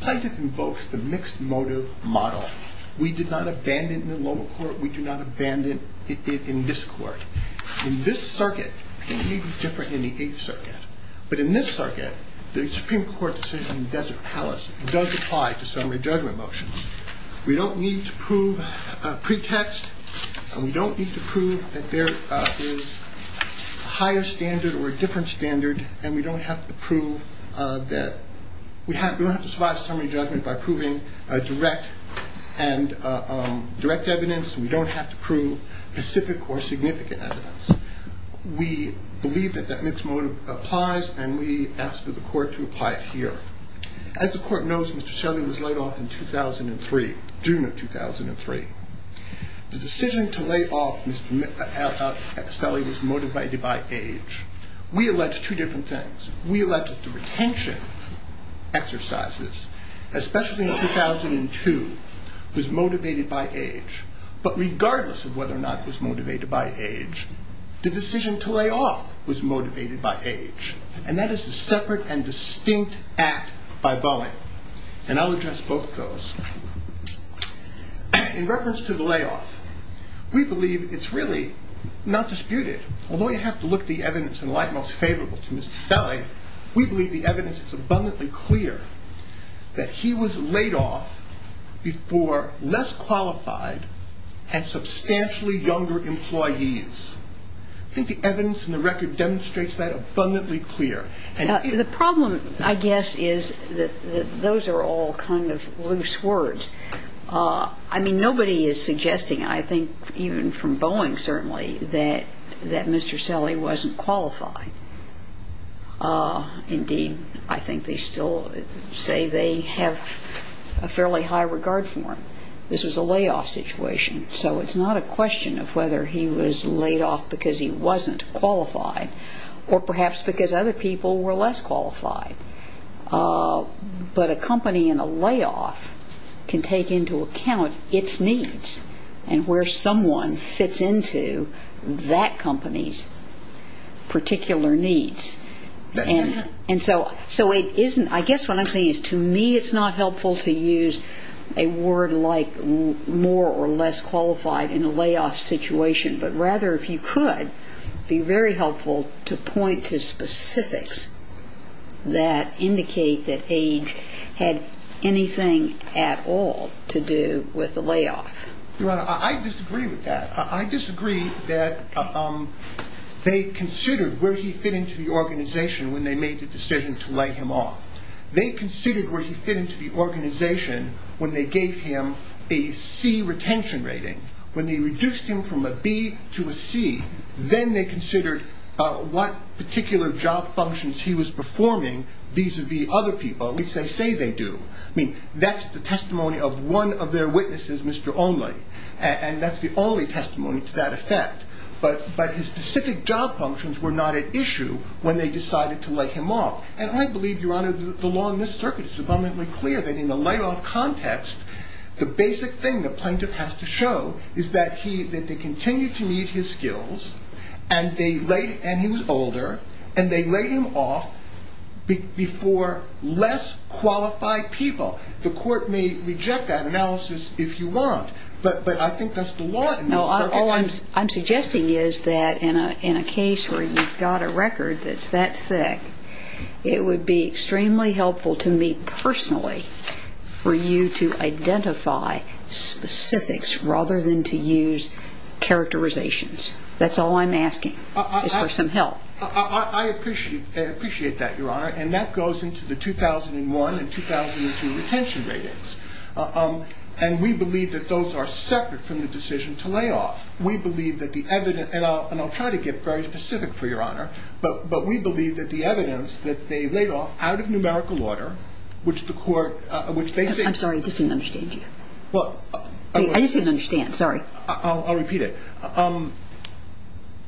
Plaintiff invokes the mixed motive model. We did not abandon it in the lower court. We do not abandon it in this court. In this circuit, it may be different than the 8th Circuit. But in this circuit, the Supreme Court decision in Desert Palace does apply to summary judgment motions. We don't need to prove a pretext. We don't need to prove that there is a higher standard or a different standard. And we don't have to survive summary judgment by proving direct evidence. We don't have to prove specific or significant evidence. We believe that that mixed motive applies, and we ask that the court to apply it here. As the court knows, Mr. Shelley was laid off in 2003, June of 2003. The decision to lay off Mr. Shelley was motivated by age. We allege two different things. We allege that the retention exercises, especially in 2002, was motivated by age. But regardless of whether or not it was motivated by age, the decision to lay off was motivated by age. And that is a separate and distinct act by Boeing. And I'll address both of those. In reference to the layoff, we believe it's really not disputed. Although you have to look the evidence in light most favorable to Mr. Shelley, we believe the evidence is abundantly clear that he was laid off before less qualified and substantially younger employees. I think the evidence in the record demonstrates that abundantly clear. The problem, I guess, is that those are all kind of loose words. I mean, nobody is suggesting, I think, even from Boeing, certainly, that Mr. Shelley wasn't qualified. Indeed, I think they still say they have a fairly high regard for him. This was a layoff situation. So it's not a question of whether he was laid off because he wasn't qualified or perhaps because other people were less qualified. But a company in a layoff can take into account its needs and where someone fits into that company's particular needs. And so I guess what I'm saying is, to me, it's not helpful to use a word like more or less qualified in a layoff situation. But rather, if you could, it would be very helpful to point to specifics that indicate that age had anything at all to do with the layoff. Your Honor, I disagree with that. I disagree that they considered where he fit into the organization when they made the decision to lay him off. They considered where he fit into the organization when they gave him a C retention rating. When they reduced him from a B to a C, then they considered what particular job functions he was performing vis-a-vis other people. At least, they say they do. I mean, that's the testimony of one of their witnesses, Mr. Only. And that's the only testimony to that effect. But his specific job functions were not at issue when they decided to lay him off. And I believe, Your Honor, the law in this circuit is abundantly clear that in a layoff context, the basic thing the plaintiff has to show is that they continued to meet his skills, and he was older, and they laid him off before less qualified people. The court may reject that analysis if you want, but I think that's the law in this circuit. No, all I'm suggesting is that in a case where you've got a record that's that thick, it would be extremely helpful to me personally for you to identify specifics rather than to use characterizations. That's all I'm asking is for some help. I appreciate that, Your Honor. And that goes into the 2001 and 2002 retention ratings. And we believe that those are separate from the decision to lay off. We believe that the evidence, and I'll try to get very specific for Your Honor, but we believe that the evidence that they laid off out of numerical order, which the court, which they say I'm sorry, I just didn't understand you. I just didn't understand, sorry. I'll repeat it.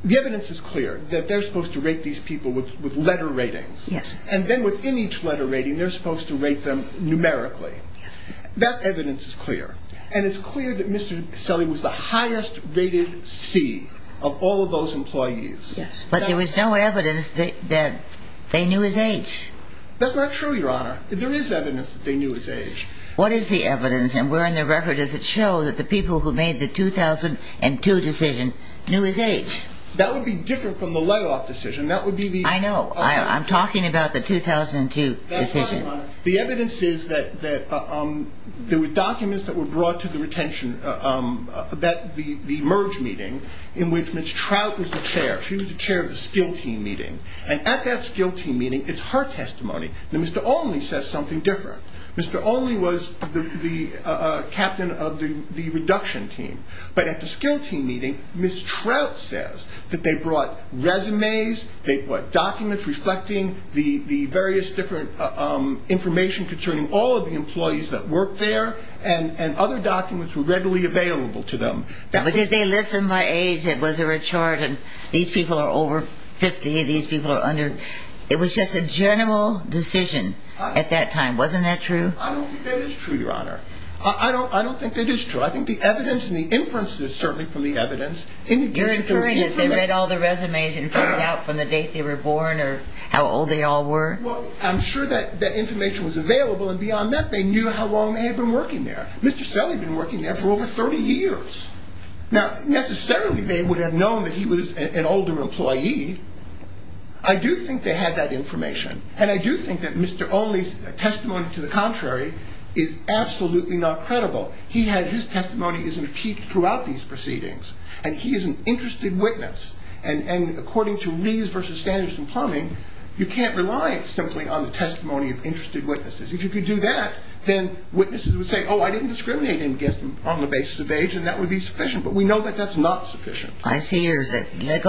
The evidence is clear that they're supposed to rate these people with letter ratings. And then within each letter rating, they're supposed to rate them numerically. That evidence is clear. And it's clear that Mr. Selley was the highest rated C of all of those employees. But there was no evidence that they knew his age. That's not true, Your Honor. There is evidence that they knew his age. What is the evidence? And where in the record does it show that the people who made the 2002 decision knew his age? That would be different from the layoff decision. I know. I'm talking about the 2002 decision. The evidence is that there were documents that were brought to the retention, the merge meeting, in which Ms. Trout was the chair. She was the chair of the skill team meeting. And at that skill team meeting, it's her testimony that Mr. Olney says something different. Mr. Olney was the captain of the reduction team. But at the skill team meeting, Ms. Trout says that they brought resumes, they brought documents reflecting the various different information concerning all of the employees that worked there, and other documents were readily available to them. But did they list them by age? Was there a chart? These people are over 50, these people are under... It was just a general decision at that time. Wasn't that true? I don't think that is true, Your Honor. I don't think that is true. I think the evidence and the inferences, certainly from the evidence... You're inferring that they read all the resumes and figured out from the date they were born or how old they all were? Well, I'm sure that information was available, and beyond that, they knew how long they had been working there. Mr. Selley had been working there for over 30 years. Now, necessarily, they would have known that he was an older employee. I do think they had that information, and I do think that Mr. Olney's testimony to the contrary is absolutely not credible. His testimony is impeded throughout these proceedings, and he is an interested witness. And according to Rees v. Standards and Plumbing, you can't rely on somebody else. It's simply on the testimony of interested witnesses. If you could do that, then witnesses would say, oh, I didn't discriminate against him on the basis of age, and that would be sufficient. But we know that that's not sufficient. Go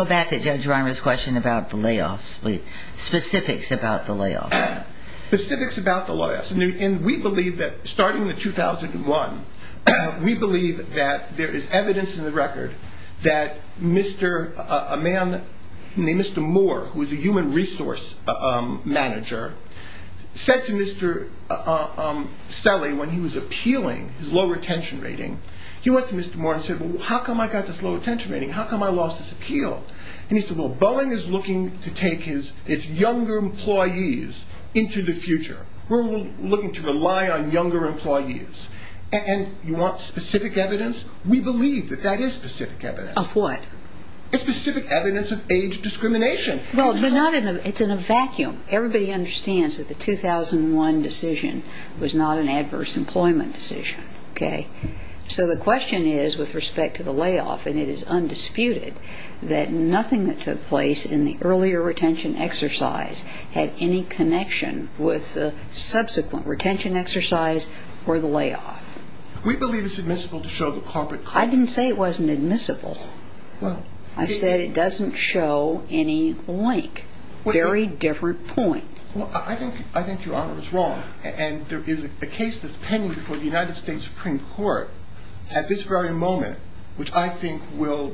back to Judge Reimer's question about the layoffs, specifics about the layoffs. And he said, well, Boeing is looking to take its younger employees into the future. We're looking to rely on younger employees. And you want specific evidence? We believe that that is specific evidence. Of what? It's specific evidence of age discrimination. Well, it's in a vacuum. Everybody understands that the 2001 decision was not an adverse employment decision, okay? So the question is, with respect to the layoff, and it is undisputed, that nothing that took place in the earlier retention exercise had any connection with the subsequent retention exercise or the layoff. We believe it's admissible to show the corporate... I didn't say it wasn't admissible. Well... I said it doesn't show any link. Very different point. Well, I think Your Honor is wrong. And there is a case that's pending before the United States Supreme Court at this very moment, which I think will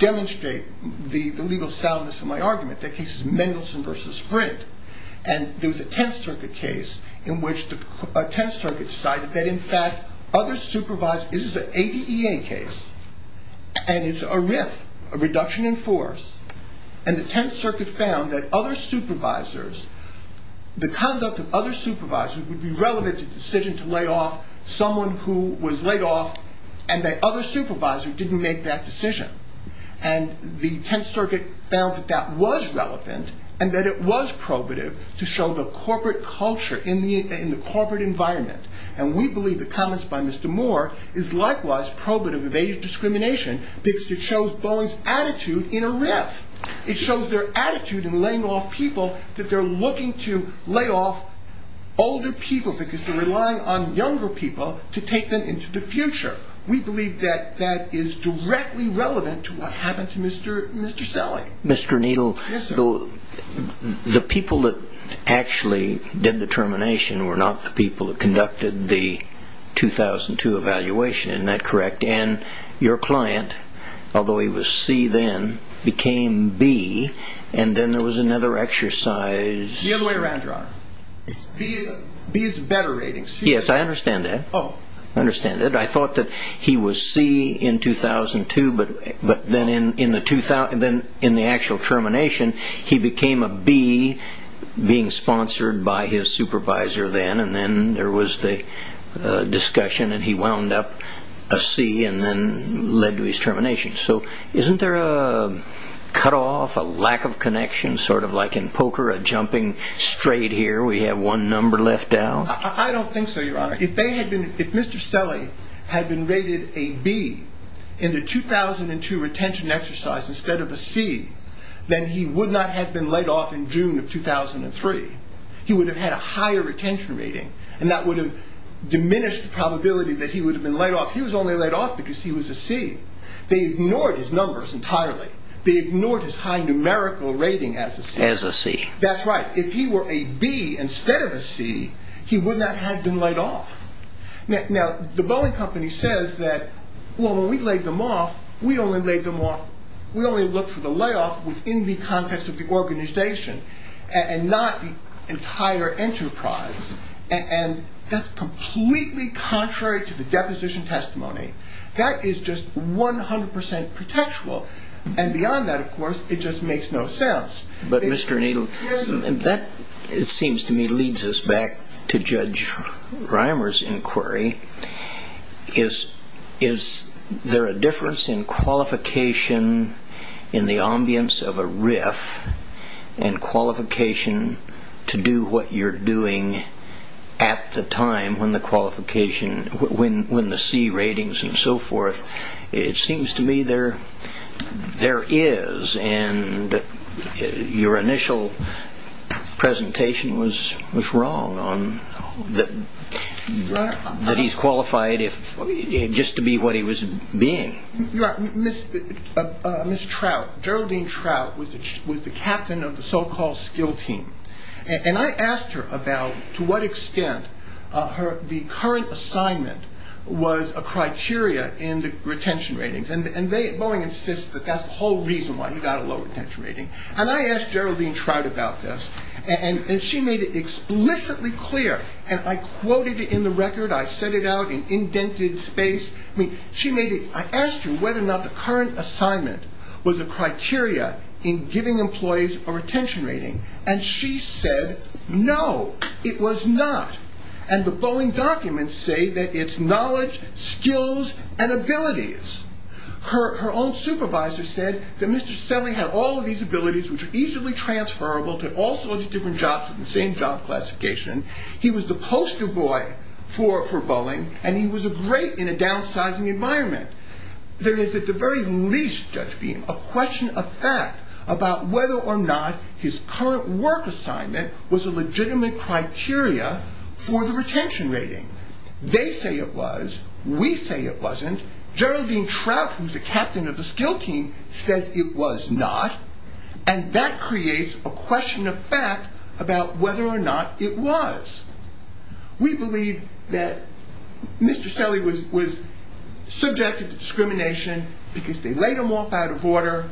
demonstrate the legal soundness of my argument. That case is Mendelsohn v. Sprint. And there was a Tenth Circuit case in which the Tenth Circuit decided that, in fact, other supervisors... This is an ADEA case. And it's a RIF, a reduction in force. And the Tenth Circuit found that other supervisors... The conduct of other supervisors would be relevant to the decision to lay off someone who was laid off, and that other supervisors didn't make that decision. And the Tenth Circuit found that that was relevant and that it was probative to show the corporate culture in the corporate environment. And we believe the comments by Mr. Moore is likewise probative of age discrimination because it shows Boeing's attitude in a RIF. It shows their attitude in laying off people that they're looking to lay off older people because they're relying on younger people to take them into the future. We believe that that is directly relevant to what happened to Mr. Selley. Mr. Needle, the people that actually did the termination were not the people that conducted the 2002 evaluation. Isn't that correct? And your client, although he was C then, became B, and then there was another exercise... The other way around, Your Honor. B is a better rating. C is... Yes, I understand that. I understand that. I thought that he was C in 2002, but then in the actual termination, he became a B being sponsored by his supervisor then, and then there was the discussion and he wound up a C and then led to his termination. So isn't there a cutoff, a lack of connection, sort of like in poker, a jumping straight here, we have one number left out? I don't think so, Your Honor. If Mr. Selley had been rated a B in the 2002 retention exercise instead of a C, then he would not have been let off in June of 2003. He would have had a higher retention rating, and that would have diminished the probability that he would have been let off. He was only let off because he was a C. They ignored his numbers entirely. They ignored his high numerical rating as a C. As a C. That's right. If he were a B instead of a C, he would not have been let off. Now, the Boeing Company says that, well, when we laid them off, we only laid them off... We only looked for the layoff within the context of the organization and not the entire enterprise. And that's completely contrary to the deposition testimony. That is just 100% pretextual. And beyond that, of course, it just makes no sense. But, Mr. Needle, that, it seems to me, leads us back to Judge Reimer's inquiry. Is there a difference in qualification in the ambience of a RIF and qualification to do what you're doing at the time when the C ratings and so forth... It seems to me there is, and your initial presentation was wrong, that he's qualified just to be what he was being. Ms. Trout, Geraldine Trout, was the captain of the so-called skill team. And I asked her about to what extent the current assignment was a criteria in the retention ratings. And Boeing insists that that's the whole reason why he got a low retention rating. And I asked Geraldine Trout about this, and she made it explicitly clear. And I quoted it in the record. I set it out in indented space. I asked her whether or not the current assignment was a criteria in giving employees a retention rating. And she said, no, it was not. And the Boeing documents say that it's knowledge, skills, and abilities. Her own supervisor said that Mr. Selling had all of these abilities which are easily transferable to all sorts of different jobs with the same job classification. He was the poster boy for Boeing, and he was great in a downsizing environment. There is at the very least, Judge Beam, a question of fact about whether or not his current work assignment was a legitimate criteria for the retention rating. They say it was. We say it wasn't. Geraldine Trout, who's the captain of the skill team, says it was not. And that creates a question of fact about whether or not it was. We believe that Mr. Selling was subjected to discrimination because they laid him off out of order.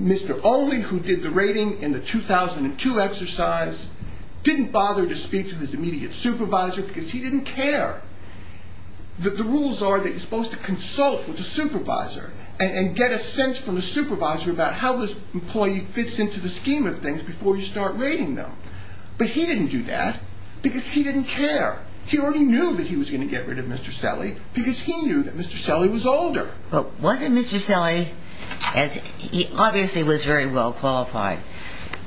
Mr. Only, who did the rating in the 2002 exercise, didn't bother to speak to his immediate supervisor because he didn't care. The rules are that you're supposed to consult with the supervisor and get a sense from the supervisor about how this employee fits into the scheme of things before you start rating them. But he didn't do that because he didn't care. He already knew that he was going to get rid of Mr. Selling because he knew that Mr. Selling was older. But wasn't Mr. Selling, as he obviously was very well qualified,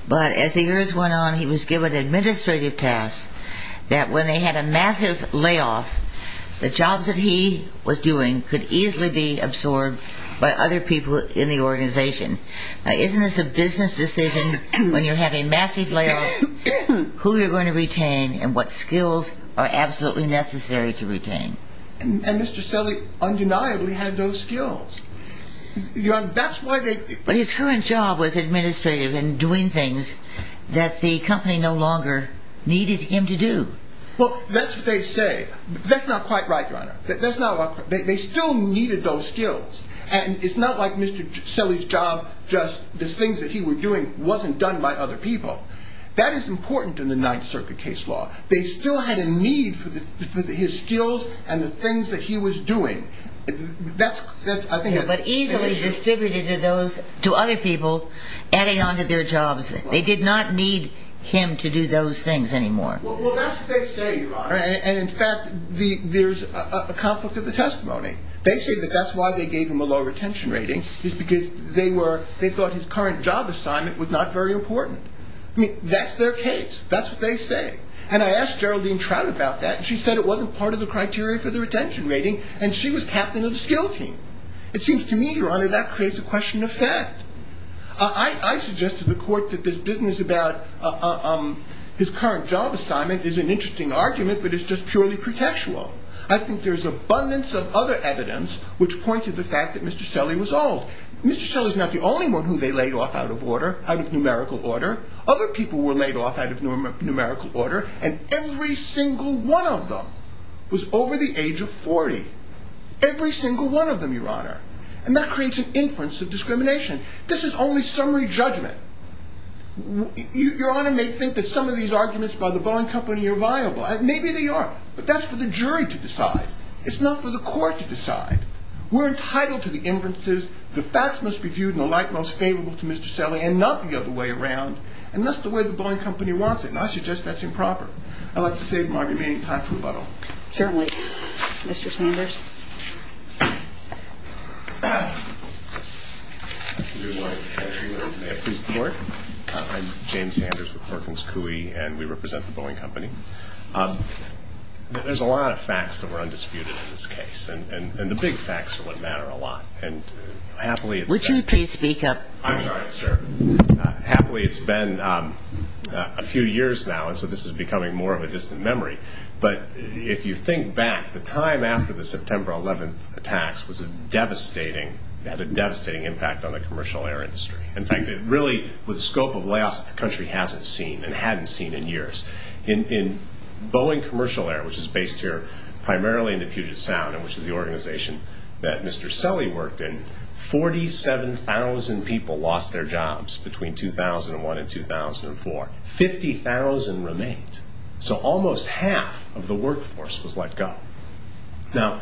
but as the years went on, he was given administrative tasks that when they had a massive layoff, the jobs that he was doing could easily be absorbed by other people in the organization. Now, isn't this a business decision when you have a massive layoff, who you're going to retain and what skills are absolutely necessary to retain? And Mr. Selling undeniably had those skills. But his current job was administrative and doing things that the company no longer needed him to do. Well, that's what they say. That's not quite right, Your Honor. They still needed those skills. And it's not like Mr. Selling's job, just the things that he was doing, wasn't done by other people. That is important in the Ninth Circuit case law. They still had a need for his skills and the things that he was doing. But easily distributed to other people, adding on to their jobs. They did not need him to do those things anymore. Well, that's what they say, Your Honor. And, in fact, there's a conflict of the testimony. They say that that's why they gave him a low retention rating is because they thought his current job assignment was not very important. That's their case. That's what they say. And I asked Geraldine Trout about that. She said it wasn't part of the criteria for the retention rating, and she was captain of the skill team. It seems to me, Your Honor, that creates a question of fact. I suggest to the court that this business about his current job assignment is an interesting argument, but it's just purely pretextual. I think there's abundance of other evidence which point to the fact that Mr. Selling was old. Mr. Selling's not the only one who they laid off out of order, out of numerical order. Other people were laid off out of numerical order, and every single one of them was over the age of 40. Every single one of them, Your Honor. And that creates an inference of discrimination. This is only summary judgment. Your Honor may think that some of these arguments by the Boeing Company are viable. Maybe they are, but that's for the jury to decide. It's not for the court to decide. We're entitled to the inferences. The facts must be viewed in a light most favorable to Mr. Selling and not the other way around. And that's the way the Boeing Company wants it, and I suggest that's improper. I'd like to save my remaining time for rebuttal. Certainly. Mr. Sanders. May it please the Court. I'm James Sanders with Perkins Coie, and we represent the Boeing Company. There's a lot of facts that were undisputed in this case, and the big facts are what matter a lot. And happily it's been. Richard, please speak up. I'm sorry. Sure. Happily it's been a few years now, and so this is becoming more of a distant memory. But if you think back, the time after the September 11th attacks had a devastating impact on the commercial air industry. In fact, it really, with the scope of layoffs, the country hasn't seen and hadn't seen in years. In Boeing Commercial Air, which is based here primarily in the Puget Sound, which is the organization that Mr. Selly worked in, 47,000 people lost their jobs between 2001 and 2004. 50,000 remained. So almost half of the workforce was let go. Now,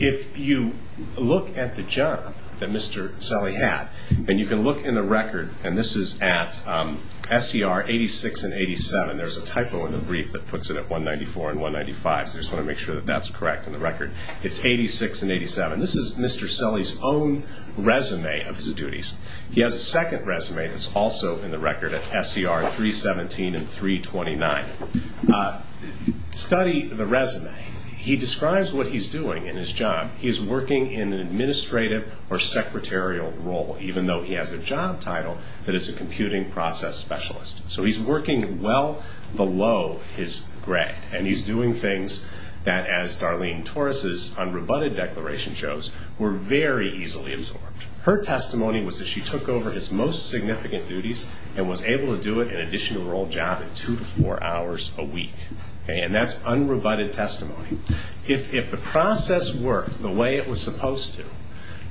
if you look at the job that Mr. Selly had, and you can look in the record, and this is at SER 86 and 87. There's a typo in the brief that puts it at 194 and 195, so I just want to make sure that that's correct in the record. It's 86 and 87. This is Mr. Selly's own resume of his duties. He has a second resume that's also in the record at SER 317 and 329. Study the resume. He describes what he's doing in his job. He's working in an administrative or secretarial role, even though he has a job title that is a computing process specialist. So he's working well below his grade, and he's doing things that, as Darlene Torres's unrebutted declaration shows, were very easily absorbed. Her testimony was that she took over his most significant duties and was able to do it in addition to her old job in two to four hours a week. And that's unrebutted testimony. If the process worked the way it was supposed to,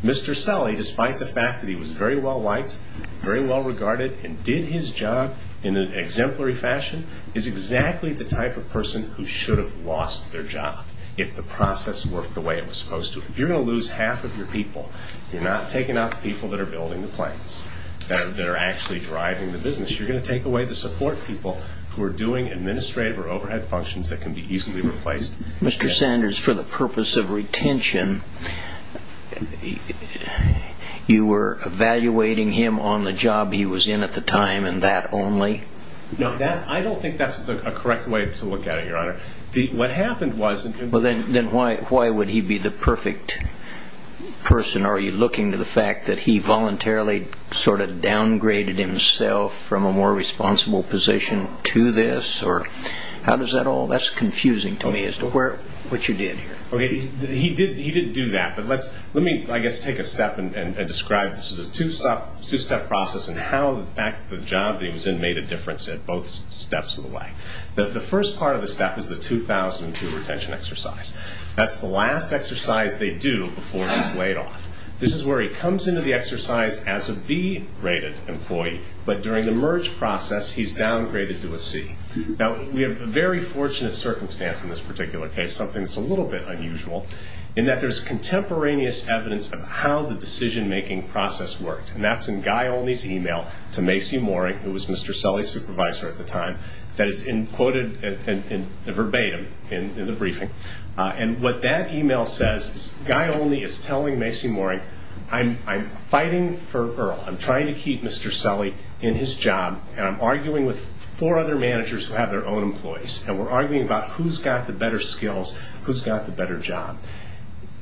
Mr. Selly, despite the fact that he was very well liked, very well regarded, and did his job in an exemplary fashion, is exactly the type of person who should have lost their job if the process worked the way it was supposed to. If you're going to lose half of your people, you're not taking out the people that are building the planes, that are actually driving the business. You're going to take away the support people who are doing administrative or overhead functions that can be easily replaced. Mr. Sanders, for the purpose of retention, you were evaluating him on the job he was in at the time, and that only? No, I don't think that's a correct way to look at it, Your Honor. What happened was... Well, then why would he be the perfect person? Are you looking to the fact that he voluntarily sort of downgraded himself from a more responsible position to this? That's confusing to me as to what you did here. Okay, he did do that, but let me, I guess, take a step and describe. This is a two-step process in how the job that he was in made a difference at both steps of the way. The first part of the step is the 2002 retention exercise. That's the last exercise they do before he's laid off. This is where he comes into the exercise as a B-rated employee, but during the merge process, he's downgraded to a C. Now, we have a very fortunate circumstance in this particular case, something that's a little bit unusual, in that there's contemporaneous evidence of how the decision-making process worked, and that's in Guy Olney's email to Macy Mooring, who was Mr. Selley's supervisor at the time, that is quoted in verbatim in the briefing. And what that email says is Guy Olney is telling Macy Mooring, I'm fighting for Earl, I'm trying to keep Mr. Selley in his job, and I'm arguing with four other managers who have their own employees, and we're arguing about who's got the better skills, who's got the better job.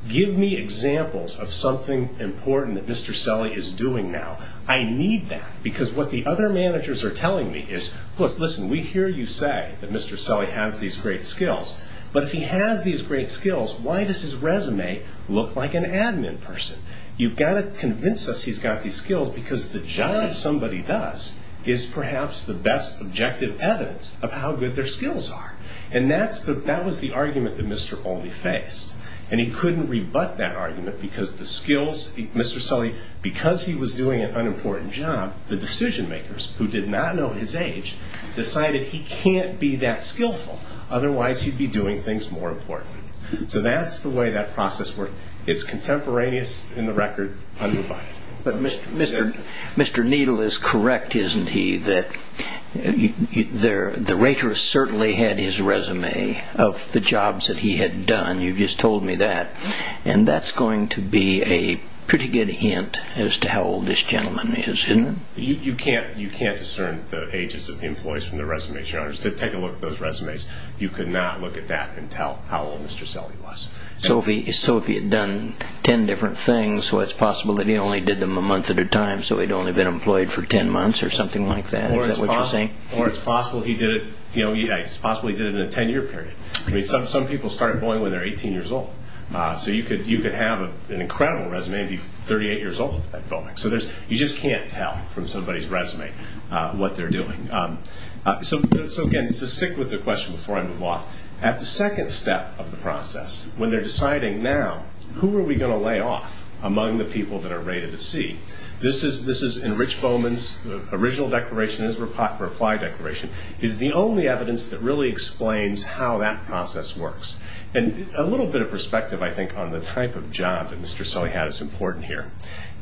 Give me examples of something important that Mr. Selley is doing now. I need that, because what the other managers are telling me is, listen, we hear you say that Mr. Selley has these great skills, but if he has these great skills, why does his resume look like an admin person? You've got to convince us he's got these skills, because the job somebody does is perhaps the best objective evidence of how good their skills are. And that was the argument that Mr. Olney faced, and he couldn't rebut that argument, because the skills, Mr. Selley, because he was doing an unimportant job, the decision-makers, who did not know his age, decided he can't be that skillful, otherwise he'd be doing things more importantly. So that's the way that process works. It's contemporaneous in the record, undivided. But Mr. Needle is correct, isn't he, that the waitress certainly had his resume of the jobs that he had done. You just told me that. And that's going to be a pretty good hint as to how old this gentleman is, isn't it? You can't discern the ages of the employees from their resumes, Your Honor. Take a look at those resumes. You could not look at that and tell how old Mr. Selley was. So if he had done 10 different things, so it's possible that he only did them a month at a time, so he'd only been employed for 10 months or something like that? Is that what you're saying? Or it's possible he did it in a 10-year period. Some people start at Boeing when they're 18 years old. So you could have an incredible resume and be 38 years old at Boeing. So you just can't tell from somebody's resume what they're doing. So, again, to stick with the question before I move off, at the second step of the process, when they're deciding now, who are we going to lay off among the people that are rated a C, this is in Rich Bowman's original declaration, his reply declaration, is the only evidence that really explains how that process works. And a little bit of perspective, I think, on the type of job that Mr. Selley had is important here.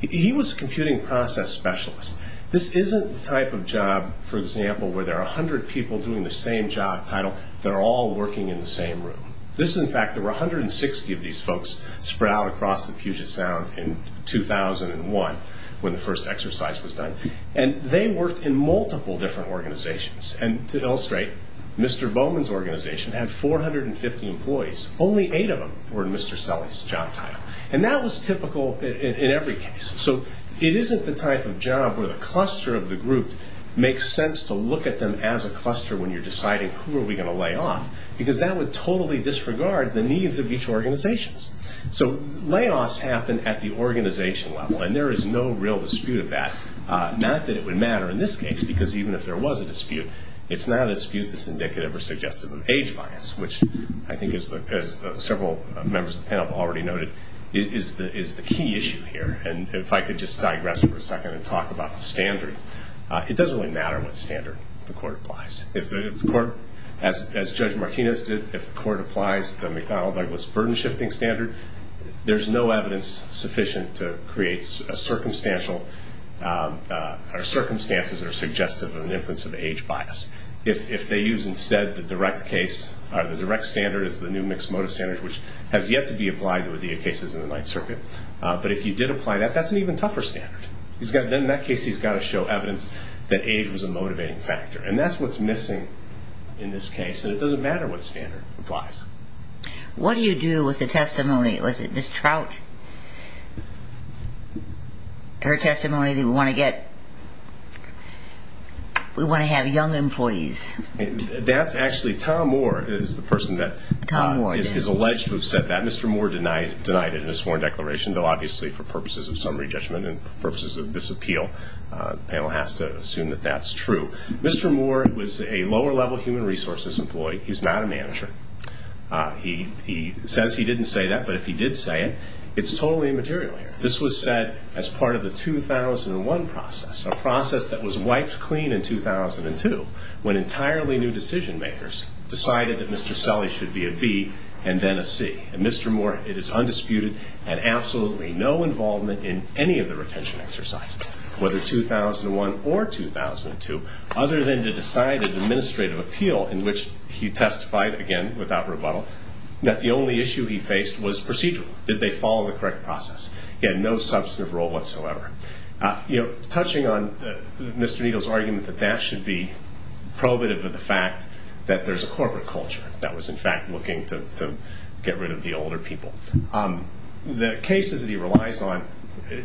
He was a computing process specialist. This isn't the type of job, for example, where there are 100 people doing the same job title that are all working in the same room. This is, in fact, there were 160 of these folks spread out across the Puget Sound in 2001, when the first exercise was done. And they worked in multiple different organizations. And to illustrate, Mr. Bowman's organization had 450 employees. Only eight of them were in Mr. Selley's job title. And that was typical in every case. So it isn't the type of job where the cluster of the group makes sense to look at them as a cluster when you're deciding who are we going to lay off, because that would totally disregard the needs of each organization. So layoffs happen at the organization level, and there is no real dispute of that. Not that it would matter in this case, because even if there was a dispute, it's not a dispute that's indicative or suggestive of age bias, which I think, as several members of the panel have already noted, is the key issue here. And if I could just digress for a second and talk about the standard. It doesn't really matter what standard the court applies. If the court, as Judge Martinez did, if the court applies the McDonnell-Douglas burden-shifting standard, there's no evidence sufficient to create a circumstantial or circumstances that are suggestive of an influence of age bias. If they use instead the direct case, the direct standard is the new mixed motive standard, which has yet to be applied to ODEA cases in the Ninth Circuit. But if you did apply that, that's an even tougher standard. In that case, he's got to show evidence that age was a motivating factor. And that's what's missing in this case, and it doesn't matter what standard applies. What do you do with the testimony? Was it Ms. Trout, her testimony, that we want to have young employees? That's actually Tom Moore is the person that is alleged to have said that. Mr. Moore denied it in his sworn declaration, though obviously for purposes of summary judgment and purposes of disappeal, the panel has to assume that that's true. Mr. Moore was a lower-level human resources employee. He's not a manager. He says he didn't say that, but if he did say it, it's totally immaterial here. This was said as part of the 2001 process, a process that was wiped clean in 2002 when entirely new decision-makers decided that Mr. Selle should be a B and then a C. And Mr. Moore, it is undisputed and absolutely no involvement in any of the retention exercises, whether 2001 or 2002, other than to decide an administrative appeal, in which he testified, again, without rebuttal, that the only issue he faced was procedural. Did they follow the correct process? He had no substantive role whatsoever. Touching on Mr. Needle's argument that that should be probative of the fact that there's a corporate culture that was, in fact, looking to get rid of the older people. The cases that he relies on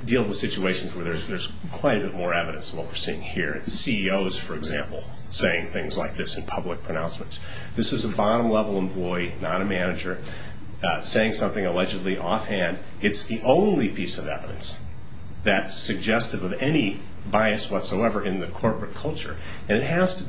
deal with situations where there's quite a bit more evidence of what we're seeing here. CEOs, for example, saying things like this in public pronouncements. This is a bottom-level employee, not a manager, saying something allegedly offhand. It's the only piece of evidence that's suggestive of any bias whatsoever in the corporate culture. And it has to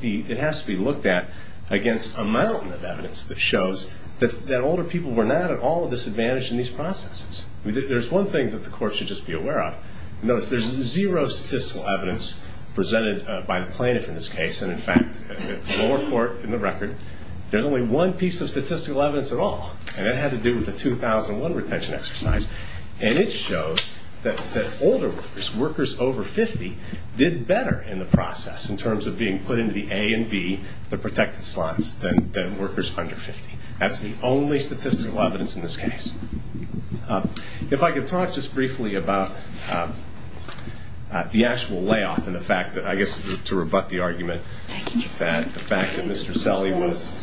be looked at against a mountain of evidence that shows that older people were not at all disadvantaged in these processes. There's one thing that the court should just be aware of. Notice there's zero statistical evidence presented by the plaintiff in this case. And, in fact, at the lower court, in the record, there's only one piece of statistical evidence at all. And it had to do with the 2001 retention exercise. And it shows that older workers, workers over 50, did better in the process in terms of being put into the A and B, the protected slots, than workers under 50. That's the only statistical evidence in this case. If I could talk just briefly about the actual layoff and the fact that I guess to rebut the argument that the fact that Mr. Selley was...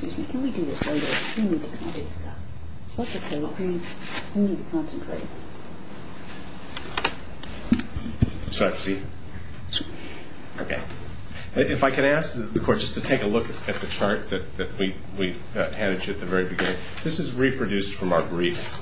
If I could ask the court just to take a look at the chart that we handed you at the very beginning. This is reproduced from our brief.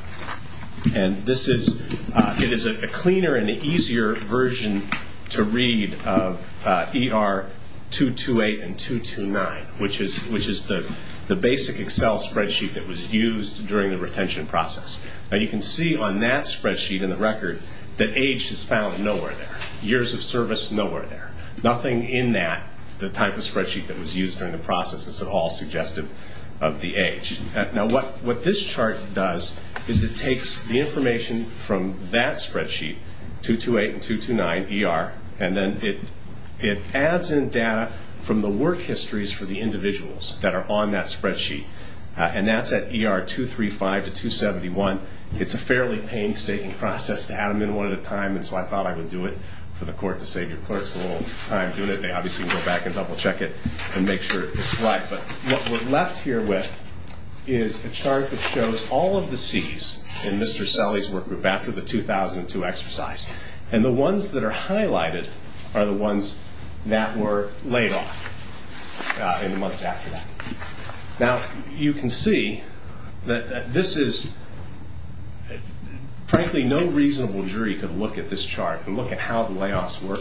And it is a cleaner and easier version to read of ER 228 and 229, which is the basic Excel spreadsheet that was used during the retention process. Now, you can see on that spreadsheet in the record that age is found nowhere there, years of service nowhere there. Nothing in that, the type of spreadsheet that was used during the process, is at all suggestive of the age. Now, what this chart does is it takes the information from that spreadsheet, 228 and 229 ER, and then it adds in data from the work histories for the individuals that are on that spreadsheet. And that's at ER 235 to 271. It's a fairly painstaking process to add them in one at a time, and so I thought I would do it for the court to save your clerks a little time doing it. They obviously can go back and double-check it and make sure it's right. But what we're left here with is a chart that shows all of the Cs in Mr. Selle's work group after the 2002 exercise. And the ones that are highlighted are the ones that were laid off in the months after that. Now, you can see that this is, frankly, no reasonable jury could look at this chart and look at how the layoffs were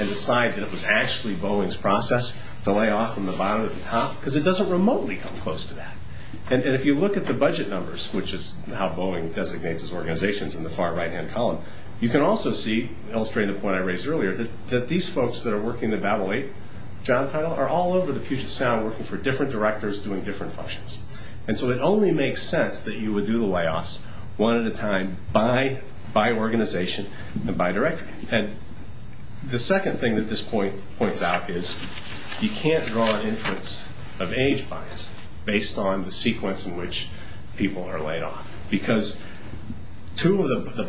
and decide that it was actually Boeing's process to lay off from the bottom to the top because it doesn't remotely come close to that. And if you look at the budget numbers, which is how Boeing designates its organizations in the far right-hand column, you can also see, illustrating the point I raised earlier, that these folks that are working the Babel 8 job title are all over the Puget Sound working for different directors doing different functions. And so it only makes sense that you would do the layoffs one at a time by organization and by director. And the second thing that this point points out is you can't draw an inference of age bias based on the sequence in which people are laid off. Because the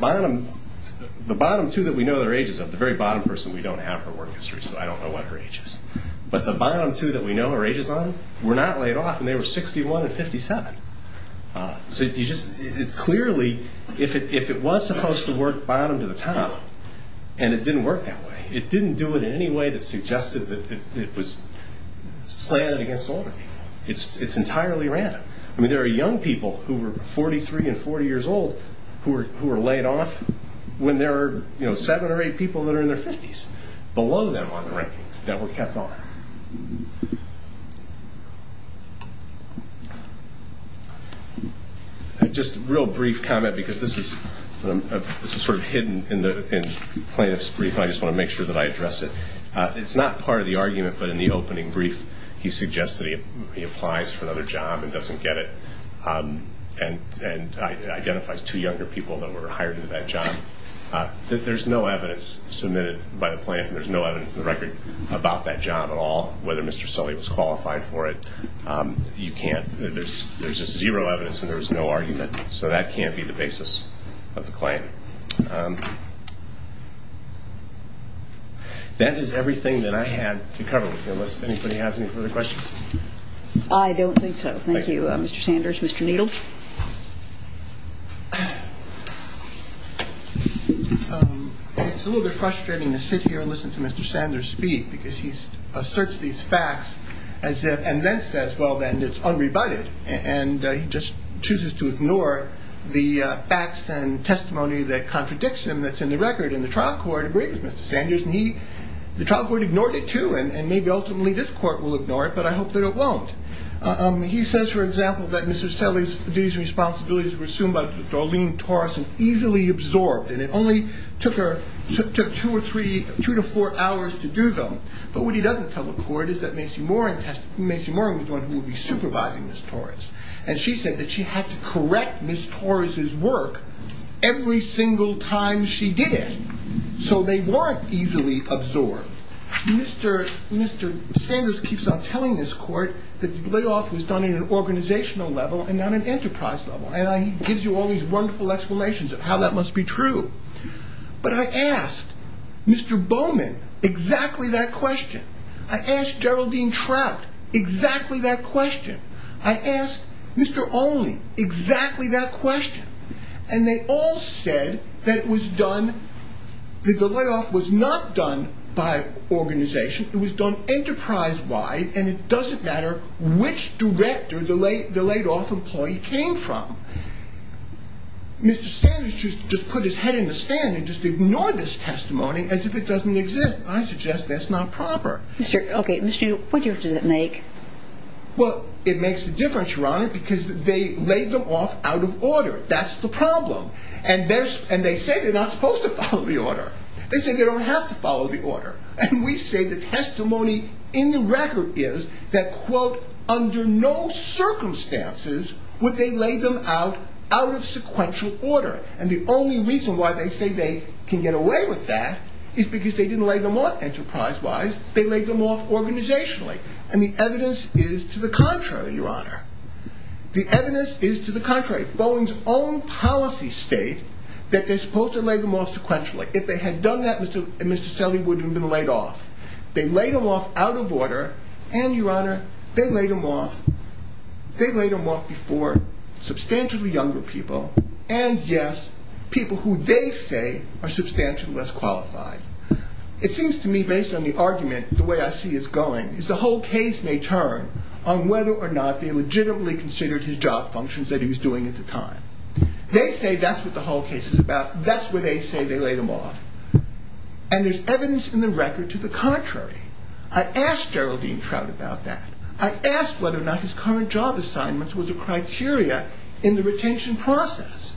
bottom two that we know their ages of, the very bottom person, we don't have her work history, so I don't know what her age is. But the bottom two that we know her ages on were not laid off, and they were 61 and 57. So clearly, if it was supposed to work bottom to the top and it didn't work that way, it didn't do it in any way that suggested that it was slanted against older people. It's entirely random. I mean, there are young people who are 43 and 40 years old who are laid off when there are seven or eight people that are in their 50s below them on the ranking that were kept on. Just a real brief comment, because this is sort of hidden in plaintiff's brief, but I just want to make sure that I address it. It's not part of the argument, but in the opening brief, he suggests that he applies for another job and doesn't get it and identifies two younger people that were hired in that job. There's no evidence submitted by the plaintiff, and there's no evidence in the record about that job at all, whether Mr. Sully was qualified for it. You can't. There's just zero evidence and there's no argument, so that can't be the basis of the claim. That is everything that I had to cover with you, unless anybody has any further questions. I don't think so. Thank you, Mr. Sanders. Mr. Needle? It's a little bit frustrating to sit here and listen to Mr. Sanders speak, because he asserts these facts and then says, well, then it's unrebutted, and he just chooses to ignore the facts and testimony that contradicts him that's in the record. And the trial court agreed with Mr. Sanders, and the trial court ignored it too, and maybe ultimately this court will ignore it, but I hope that it won't. He says, for example, that Mr. Sully's duties and responsibilities were assumed by Darlene Torres and easily absorbed, and it only took her two to four hours to do them. But what he doesn't tell the court is that Macy Moran was the one who would be supervising Ms. Torres, and she said that she had to correct Ms. Torres's work every single time she did it, so they weren't easily absorbed. Mr. Sanders keeps on telling this court that the layoff was done at an organizational level and not an enterprise level, and he gives you all these wonderful explanations of how that must be true. But I asked Mr. Bowman exactly that question. I asked Geraldine Trout exactly that question. I asked Mr. Olney exactly that question, and they all said that the layoff was not done by organization. It was done enterprise-wide, and it doesn't matter which director the laid-off employee came from. Mr. Sanders just put his head in the sand and just ignored this testimony as if it doesn't exist, and I suggest that's not proper. Okay, Mr. Newton, what difference does it make? Well, it makes a difference, Your Honor, because they laid them off out of order. That's the problem, and they say they're not supposed to follow the order. They say they don't have to follow the order, and we say the testimony in the record is that, quote, under no circumstances would they lay them out out of sequential order, and the only reason why they say they can get away with that is because they didn't lay them off enterprise-wise. They laid them off organizationally, and the evidence is to the contrary, Your Honor. The evidence is to the contrary. Bowen's own policies state that they're supposed to lay them off sequentially. If they had done that, Mr. Selley wouldn't have been laid off. They laid them off out of order, and, Your Honor, they laid them off before substantially younger people, and, yes, people who they say are substantially less qualified. It seems to me, based on the argument, the way I see it going, is the whole case may turn on whether or not they legitimately considered his job functions that he was doing at the time. They say that's what the whole case is about. That's where they say they laid him off, and there's evidence in the record to the contrary. I asked Geraldine Trout about that. I asked whether or not his current job assignment was a criteria in the retention process.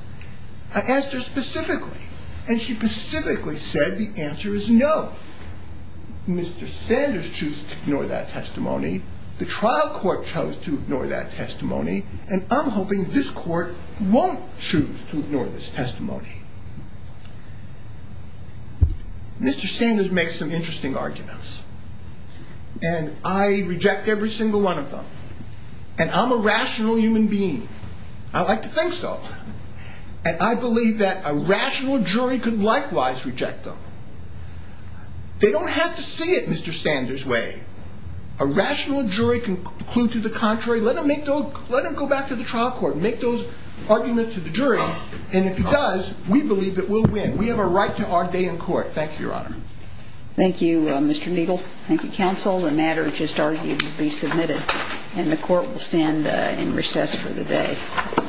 I asked her specifically, and she specifically said the answer is no. Mr. Sanders chose to ignore that testimony. The trial court chose to ignore that testimony, and I'm hoping this court won't choose to ignore this testimony. Mr. Sanders makes some interesting arguments, and I reject every single one of them, and I'm a rational human being. I like to think so, and I believe that a rational jury could likewise reject them. They don't have to see it Mr. Sanders' way. A rational jury can conclude to the contrary. Let them go back to the trial court and make those arguments to the jury, and if he does, we believe that we'll win. We have a right to our day in court. Thank you, Your Honor. Thank you, Mr. Neagle. Thank you, counsel. The matter just argued to be submitted, and the court will stand in recess for the day.